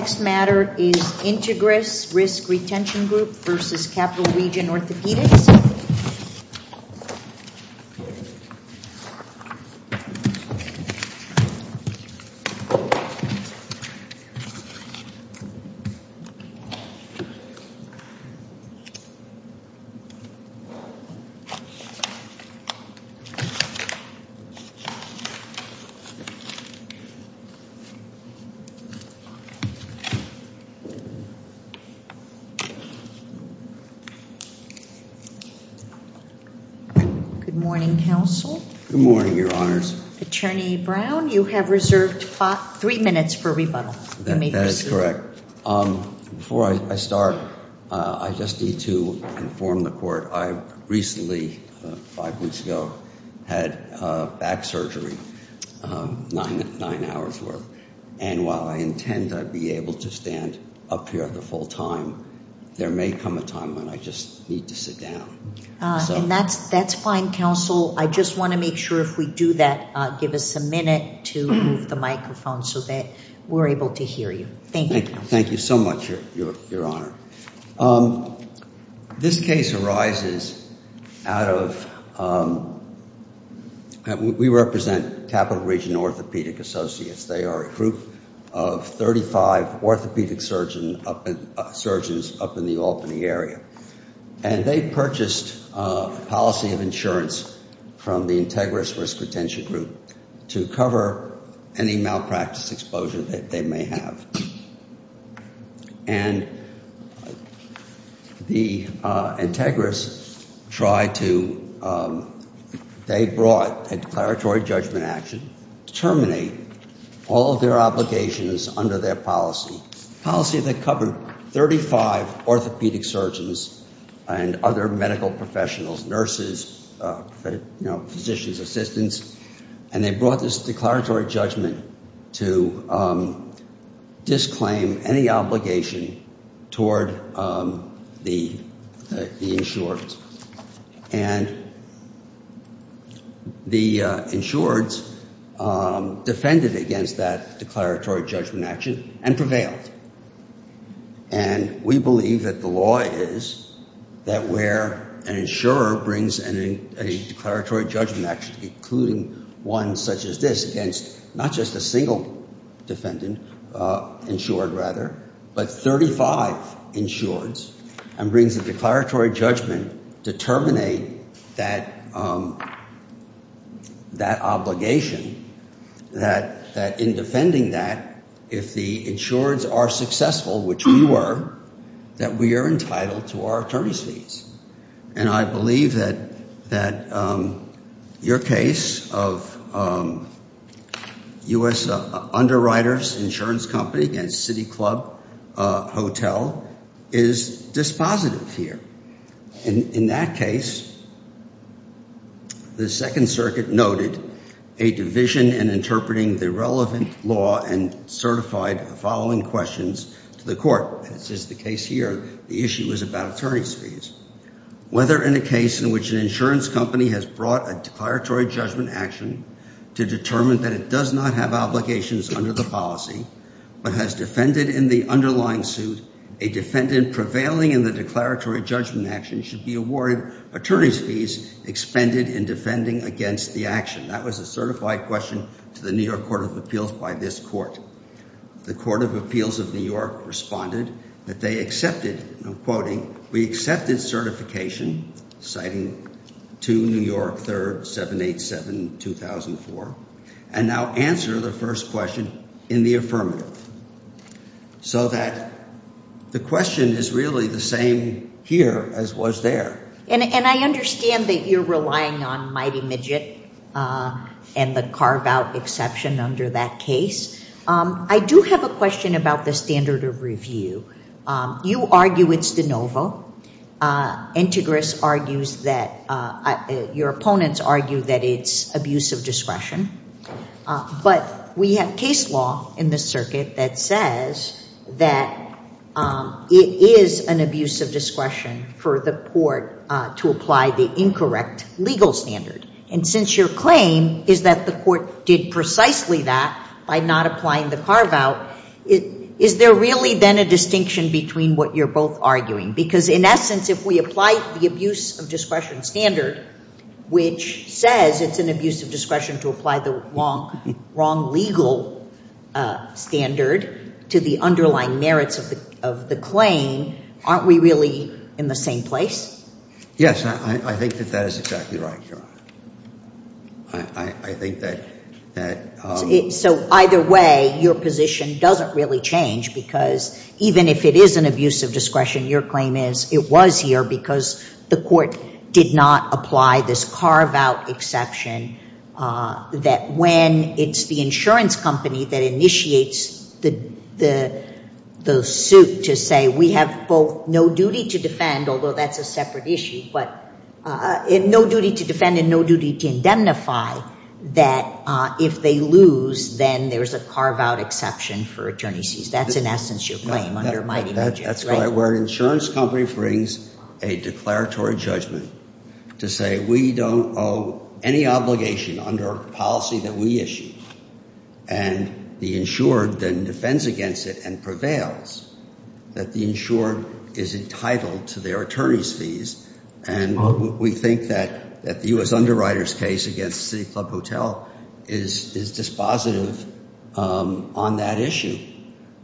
Next matter is Integris Risk Retention Group v. Capital Region Orthopaedics. Good morning, Counsel. Good morning, Your Honors. Attorney Brown, you have reserved three minutes for rebuttal. That is correct. Before I start, I just need to inform the court I recently, five weeks ago, had back surgery. Nine hours worth. And while I intend to be able to stand up here at the full time, there may come a time when I just need to sit down. And that's fine, Counsel. I just want to make sure if we do that, give us a minute to move the microphone so that we're able to hear you. Thank you. Thank you so much, Your Honor. This case arises out of, we represent Capital Region Orthopaedics Associates. They are a group of 35 orthopaedic surgeons up in the Albany area. And they purchased policy of insurance from the Integris Risk Retention Group to cover any malpractice exposure that they may have. And the Integris tried to, they brought a declaratory judgment action to terminate all of their obligations under their policy, policy that covered 35 orthopaedic surgeons and other medical professionals, nurses, physicians, assistants. And they brought this declaratory judgment to disclaim any obligation toward the insured. And the insured defended against that declaratory judgment action and prevailed. And we believe that the law is that where an insurer brings a declaratory judgment action, including one such as this, against not just a single defendant, insured rather, but 35 insureds, and brings a declaratory judgment to terminate that obligation, that in defending that, if the insureds are successful, which we were, that we are entitled to our attorney's fees. And I believe that your case of U.S. Underwriters Insurance Company against City Club Hotel is dispositive here. In that case, the Second Circuit noted a division in interpreting the relevant law and certified the following questions to the court. As is the case here, the issue is about attorney's fees. Whether in a case in which an insurance company has brought a declaratory judgment action to determine that it does not have obligations under the policy, but has defended in the underlying suit a defendant prevailing in the declaratory judgment action should be awarded attorney's fees expended in defending against the action. That was a certified question to the New York Court of Appeals by this court. The Court of Appeals of New York responded that they accepted, I'm quoting, We accepted certification, citing 2 New York 3rd 787-2004, and now answer the first question in the affirmative. So that the question is really the same here as was there. And I understand that you're relying on Mighty Midget and the carve-out exception under that case. I do have a question about the standard of review. You argue it's de novo. Integris argues that, your opponents argue that it's abuse of discretion. But we have case law in this circuit that says that it is an abuse of discretion for the court to apply the incorrect legal standard. And since your claim is that the court did precisely that by not applying the carve-out, is there really then a distinction between what you're both arguing? Because in essence, if we apply the abuse of discretion standard, which says it's an abuse of discretion to apply the wrong legal standard to the underlying merits of the claim, aren't we really in the same place? Yes, I think that that is exactly right, Your Honor. I think that that. So either way, your position doesn't really change because even if it is an abuse of discretion, your claim is it was here because the court did not apply this carve-out exception, that when it's the insurance company that initiates the suit to say we have both no duty to defend, although that's a separate issue, but no duty to defend and no duty to indemnify, that if they lose, then there's a carve-out exception for attorney's fees. That's in essence your claim under my dimensions, right? That's right. Where an insurance company brings a declaratory judgment to say we don't owe any obligation under a policy that we issued, and the insured then defends against it and prevails, that the insured is entitled to their attorney's fees, and we think that the U.S. Underwriters case against City Club Hotel is dispositive on that issue,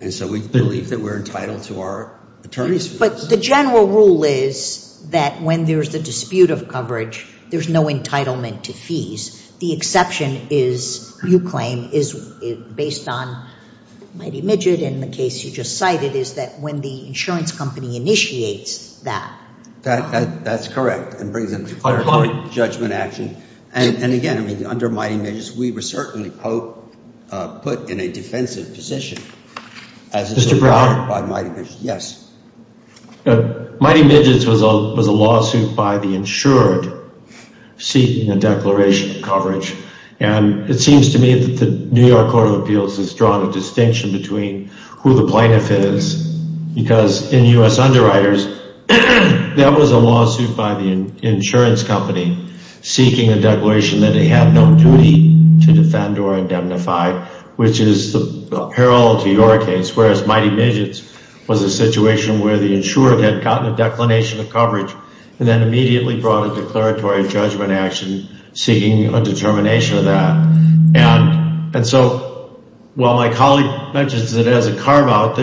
and so we believe that we're entitled to our attorney's fees. But the general rule is that when there's a dispute of coverage, there's no entitlement to fees. The exception is, you claim, is based on Mighty Midgets, and the case you just cited is that when the insurance company initiates that. That's correct, and brings a declaratory judgment action. And, again, I mean, under Mighty Midgets, we were certainly put in a defensive position. Mr. Brown? Yes. Mighty Midgets was a lawsuit by the insured seeking a declaration of coverage, and it seems to me that the New York Court of Appeals has drawn a distinction between who the plaintiff is, because in U.S. Underwriters, that was a lawsuit by the insurance company seeking a declaration that they had no duty to defend or indemnify, which is parallel to your case, whereas Mighty Midgets was a situation where the insurer had gotten a declination of coverage and then immediately brought a declaratory judgment action seeking a determination of that. And so while my colleague mentions it as a carve-out,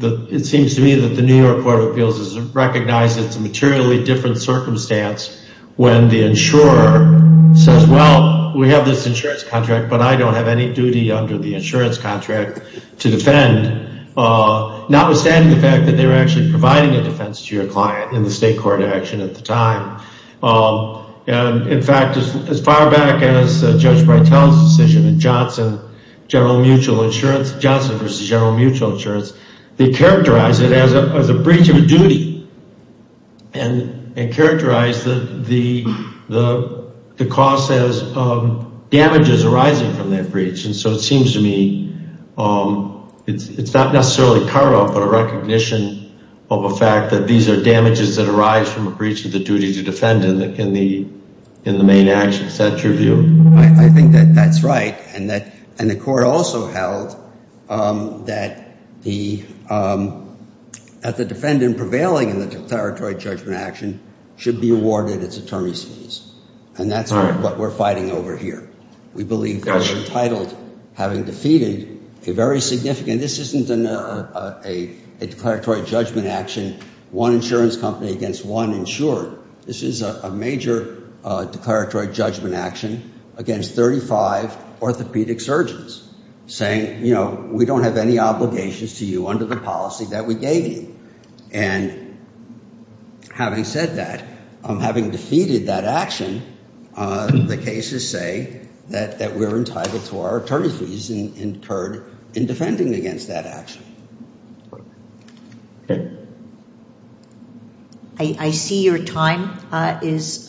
it seems to me that the New York Court of Appeals has recognized it's a materially different circumstance when the insurer says, well, we have this insurance contract, but I don't have any duty under the insurance contract to defend, notwithstanding the fact that they were actually providing a defense to your client in the state court action at the time. And, in fact, as far back as Judge Breitel's decision in Johnson versus General Mutual Insurance, they characterized it as a breach of a duty and characterized the cost as damages arising from that breach. And so it seems to me it's not necessarily carve-out, but a recognition of a fact that these are damages that arise from a breach of the duty to defend in the main action. Is that your view? I think that that's right. And the court also held that the defendant prevailing in the declaratory judgment action should be awarded its attorney's fees. And that's what we're fighting over here. We believe they're entitled, having defeated a very significant — this isn't a declaratory judgment action, one insurance company against one insurer. This is a major declaratory judgment action against 35 orthopedic surgeons, saying, you know, we don't have any obligations to you under the policy that we gave you. And having said that, having defeated that action, the cases say that we're entitled to our attorney's fees incurred in defending against that action. Okay. I see your time is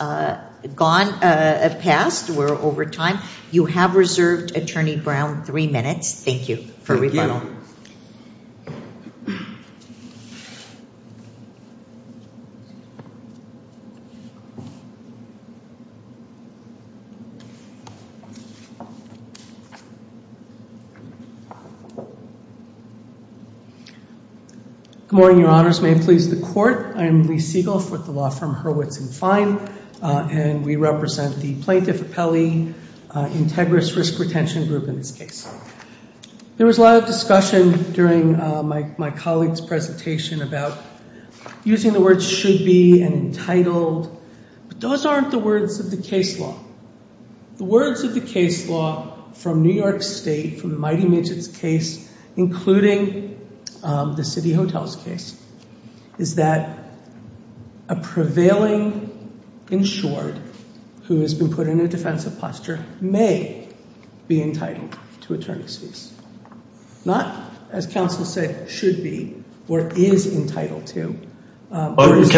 gone — passed. We're over time. You have reserved, Attorney Brown, three minutes. Thank you for rebuttal. Thank you. Good morning, Your Honors. May it please the Court. I am Lee Siegelf with the law firm Hurwitz & Fine, and we represent the Plaintiff Appellee Integrous Risk Retention Group in this case. There was a lot of discussion during my colleague's presentation about using the words should be and entitled, but those aren't the words of the case law. The words of the case law from New York State, from the Mighty Midgets case, including the City Hotels case, is that a prevailing insured who has been put in a defensive posture may be entitled to attorney's fees. Not, as counsel said, should be or is entitled to. Excuse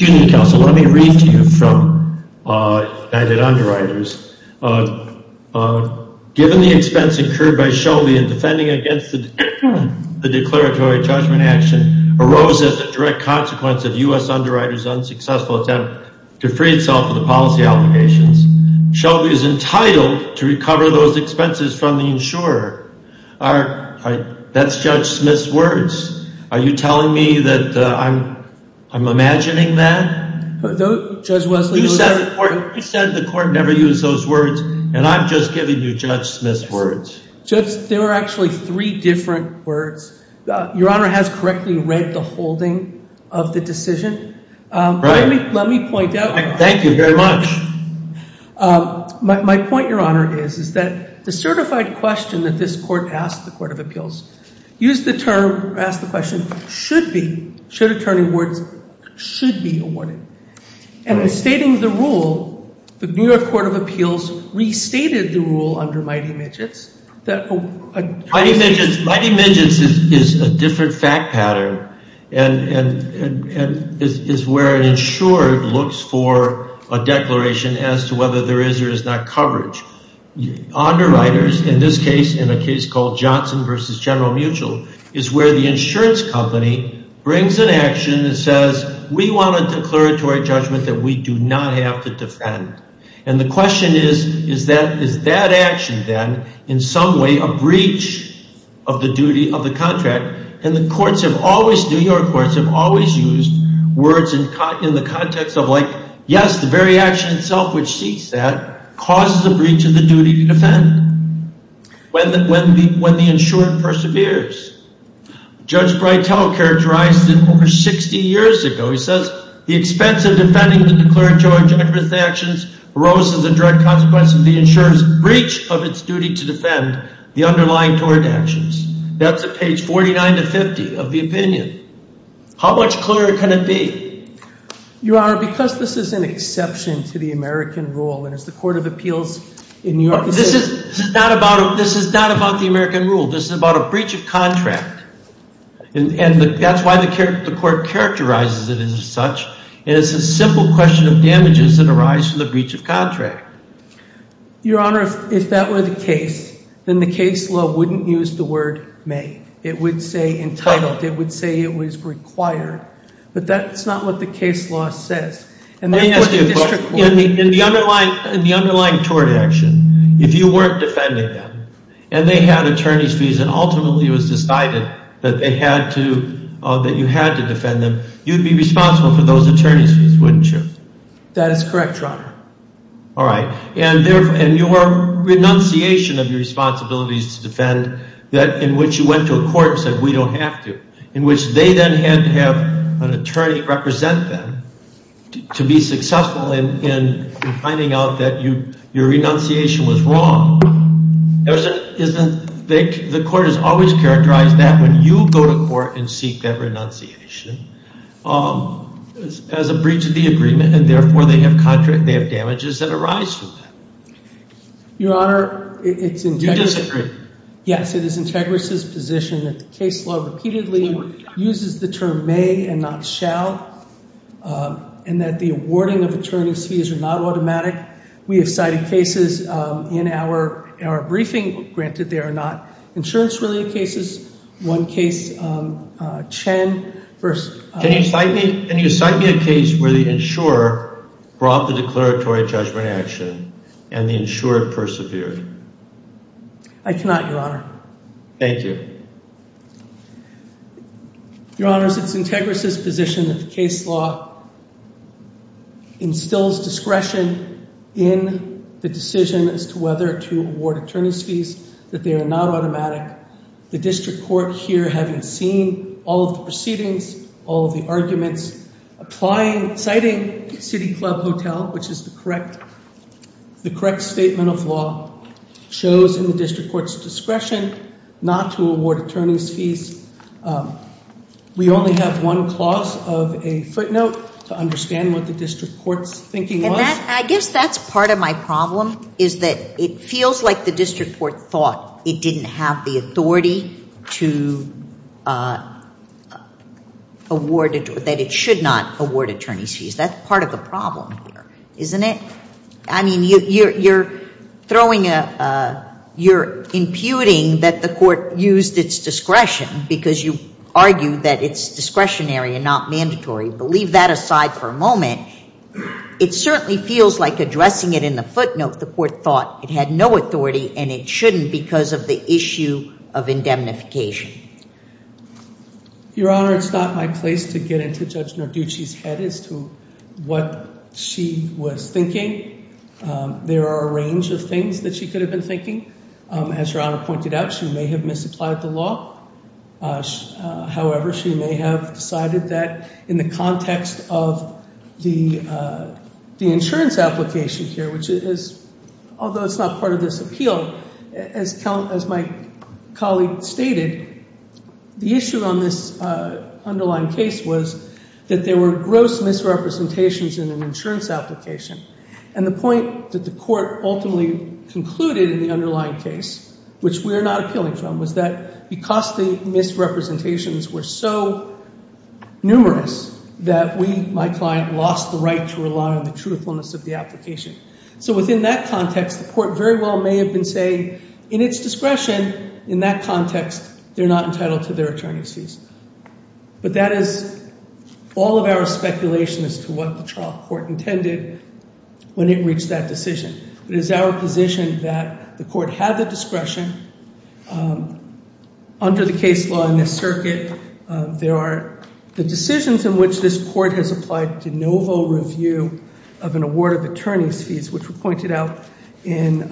me, counsel. Let me read to you from United Underwriters. Given the expense incurred by Shelby in defending against the declaratory judgment action arose as a direct consequence of U.S. Underwriters' unsuccessful attempt to free itself of the policy obligations, Shelby is entitled to recover those expenses from the insurer. That's Judge Smith's words. Are you telling me that I'm imagining that? Judge Wesley. You said the court never used those words, and I'm just giving you Judge Smith's words. Judge, there are actually three different words. Your Honor has correctly read the holding of the decision. Right. Let me point out. Thank you very much. My point, Your Honor, is that the certified question that this court asked the Court of Appeals used the term, asked the question, should be, should attorney awards, should be awarded. And in stating the rule, the New York Court of Appeals restated the rule under Mighty Midgets. Mighty Midgets is a different fact pattern and is where an insurer looks for a declaration as to whether there is or is not coverage. Underwriters, in this case, in a case called Johnson v. General Mutual, is where the insurance company brings an action that says, we want a declaratory judgment that we do not have to defend. And the question is, is that action then in some way a breach of the duty of the contract? And the courts have always, New York courts have always used words in the context of like, yes, the very action itself which seeks that causes a breach of the duty to defend when the insurer perseveres. Judge Breitel characterized it over 60 years ago. He says, the expense of defending the declaratory judgment of the actions arose as a direct consequence of the insurer's breach of its duty to defend the underlying tort actions. That's at page 49 to 50 of the opinion. How much clearer can it be? Your Honor, because this is an exception to the American rule, and as the Court of Appeals in New York says This is not about the American rule. This is about a breach of contract. And that's why the court characterizes it as such. And it's a simple question of damages that arise from the breach of contract. Your Honor, if that were the case, then the case law wouldn't use the word may. It would say entitled. It would say it was required. But that's not what the case law says. In the underlying tort action, if you weren't defending them, and they had attorney's fees and ultimately it was decided that you had to defend them, you'd be responsible for those attorney's fees, wouldn't you? That is correct, Your Honor. All right. And your renunciation of your responsibilities to defend in which you went to a court and said, we don't have to, in which they then had to have an attorney represent them to be successful in finding out that your renunciation was wrong, the court has always characterized that when you go to court and seek that renunciation as a breach of the agreement, and therefore they have damages that arise from that. Your Honor, it's integrity. The case law repeatedly uses the term may and not shall, and that the awarding of attorney's fees are not automatic. We have cited cases in our briefing. Granted, they are not insurance-related cases. One case, Chen versus — Can you cite me a case where the insurer brought the declaratory judgment action and the insurer persevered? I cannot, Your Honor. Thank you. Your Honor, it's integrity's position that the case law instills discretion in the decision as to whether to award attorney's fees, that they are not automatic. The district court here, having seen all of the proceedings, all of the arguments, citing City Club Hotel, which is the correct statement of law, shows in the district court's discretion not to award attorney's fees. We only have one clause of a footnote to understand what the district court's thinking was. And I guess that's part of my problem is that it feels like the district court thought it didn't have the authority to award — that it should not award attorney's fees. That's part of the problem here, isn't it? I mean, you're throwing a — you're imputing that the court used its discretion because you argue that it's discretionary and not mandatory. But leave that aside for a moment. It certainly feels like, addressing it in the footnote, the court thought it had no authority and it shouldn't because of the issue of indemnification. Your Honor, it's not my place to get into Judge Narducci's head as to what she was thinking. There are a range of things that she could have been thinking. As Your Honor pointed out, she may have misapplied the law. However, she may have decided that in the context of the insurance application here, which is — although it's not part of this appeal, as my colleague stated, the issue on this underlying case was that there were gross misrepresentations in an insurance application. And the point that the court ultimately concluded in the underlying case, which we are not appealing from, was that because the misrepresentations were so numerous that we, my client, lost the right to rely on the truthfulness of the application. So within that context, the court very well may have been saying, in its discretion, in that context, they're not entitled to their attorney's fees. But that is all of our speculation as to what the trial court intended when it reached that decision. It is our position that the court had the discretion. Under the case law in this circuit, there are the decisions in which this court has applied to no full review of an award of attorney's fees, which were pointed out in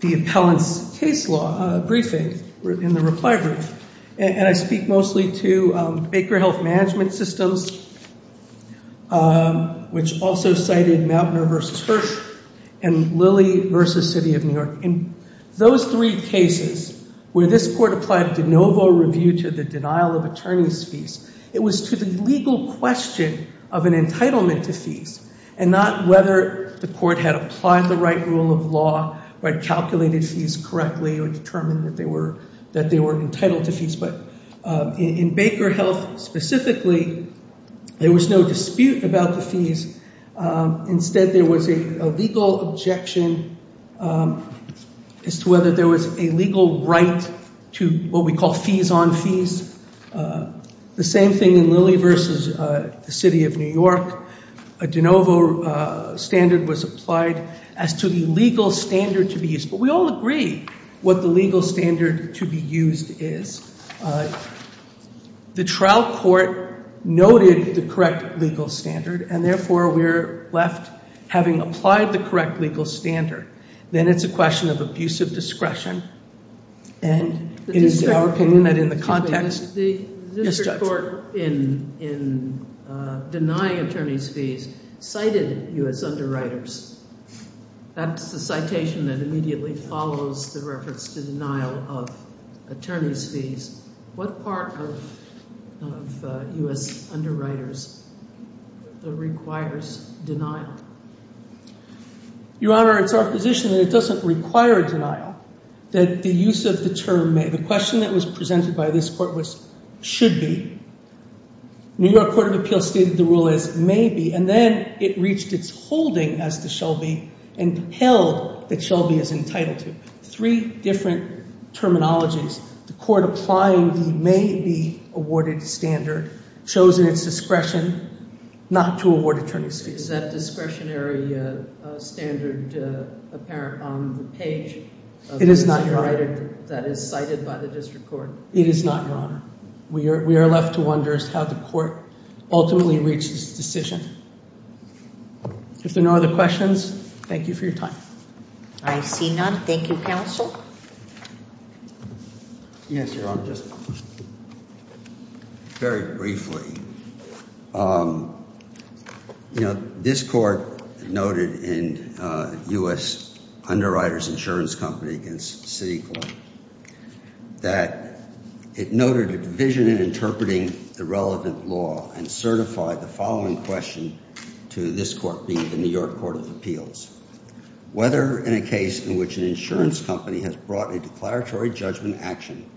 the appellant's case law briefing, in the reply brief. And I speak mostly to Baker Health Management Systems, which also cited Mautner v. Hirsch, and Lilly v. City of New York. In those three cases where this court applied to no full review to the denial of attorney's fees, it was to the legal question of an entitlement to fees, and not whether the court had applied the right rule of law, had calculated fees correctly, or determined that they were entitled to fees. But in Baker Health specifically, there was no dispute about the fees. Instead, there was a legal objection as to whether there was a legal right to what we call fees on fees. The same thing in Lilly v. City of New York. A de novo standard was applied as to the legal standard to be used. But we all agree what the legal standard to be used is. The trial court noted the correct legal standard, and therefore we're left having applied the correct legal standard. Then it's a question of abusive discretion, and it is our opinion that in the context- The district court in denying attorney's fees cited U.S. underwriters. That's the citation that immediately follows the reference to denial of attorney's fees. What part of U.S. underwriters requires denial? Your Honor, it's our position that it doesn't require denial, that the use of the term may. The question that was presented by this court was, should be. New York Court of Appeals stated the rule as may be, and then it reached its holding as to Shelby, and held that Shelby is entitled to. Three different terminologies. The court applying the may be awarded standard, chosen its discretion not to award attorney's fees. Is that discretionary standard apparent on the page? It is not, Your Honor. That is cited by the district court. It is not, Your Honor. We are left to wonder as to how the court ultimately reached its decision. If there are no other questions, thank you for your time. I see none. Thank you, counsel. Yes, Your Honor, just very briefly. You know, this court noted in U.S. Underwriters Insurance Company against CityCorp that it noted a division in interpreting the relevant law and certified the following question to this court being the New York Court of Appeals. Whether in a case in which an insurance company has brought a declaratory judgment action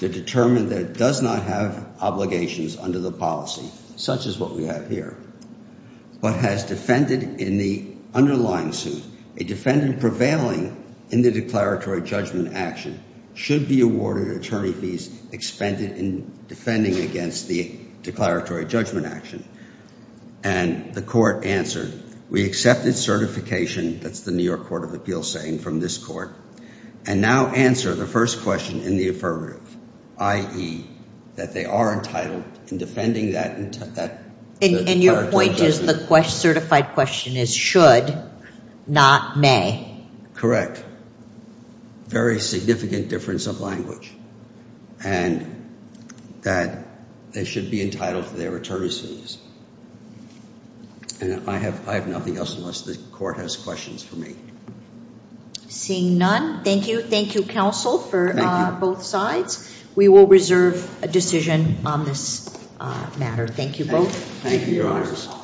to determine that it does not have obligations under the policy, such as what we have here, but has defended in the underlying suit a defendant prevailing in the declaratory judgment action should be awarded attorney fees expended in defending against the declaratory judgment action. And the court answered, we accepted certification, that's the New York Court of Appeals saying from this court, and now answer the first question in the affirmative, i.e., that they are entitled in defending that declaratory judgment. And your point is the certified question is should, not may. Correct. Very significant difference of language. And that they should be entitled to their attorney's fees. And I have nothing else unless the court has questions for me. Seeing none, thank you. Thank you, counsel, for both sides. We will reserve a decision on this matter. Thank you both. Thank you, your honors.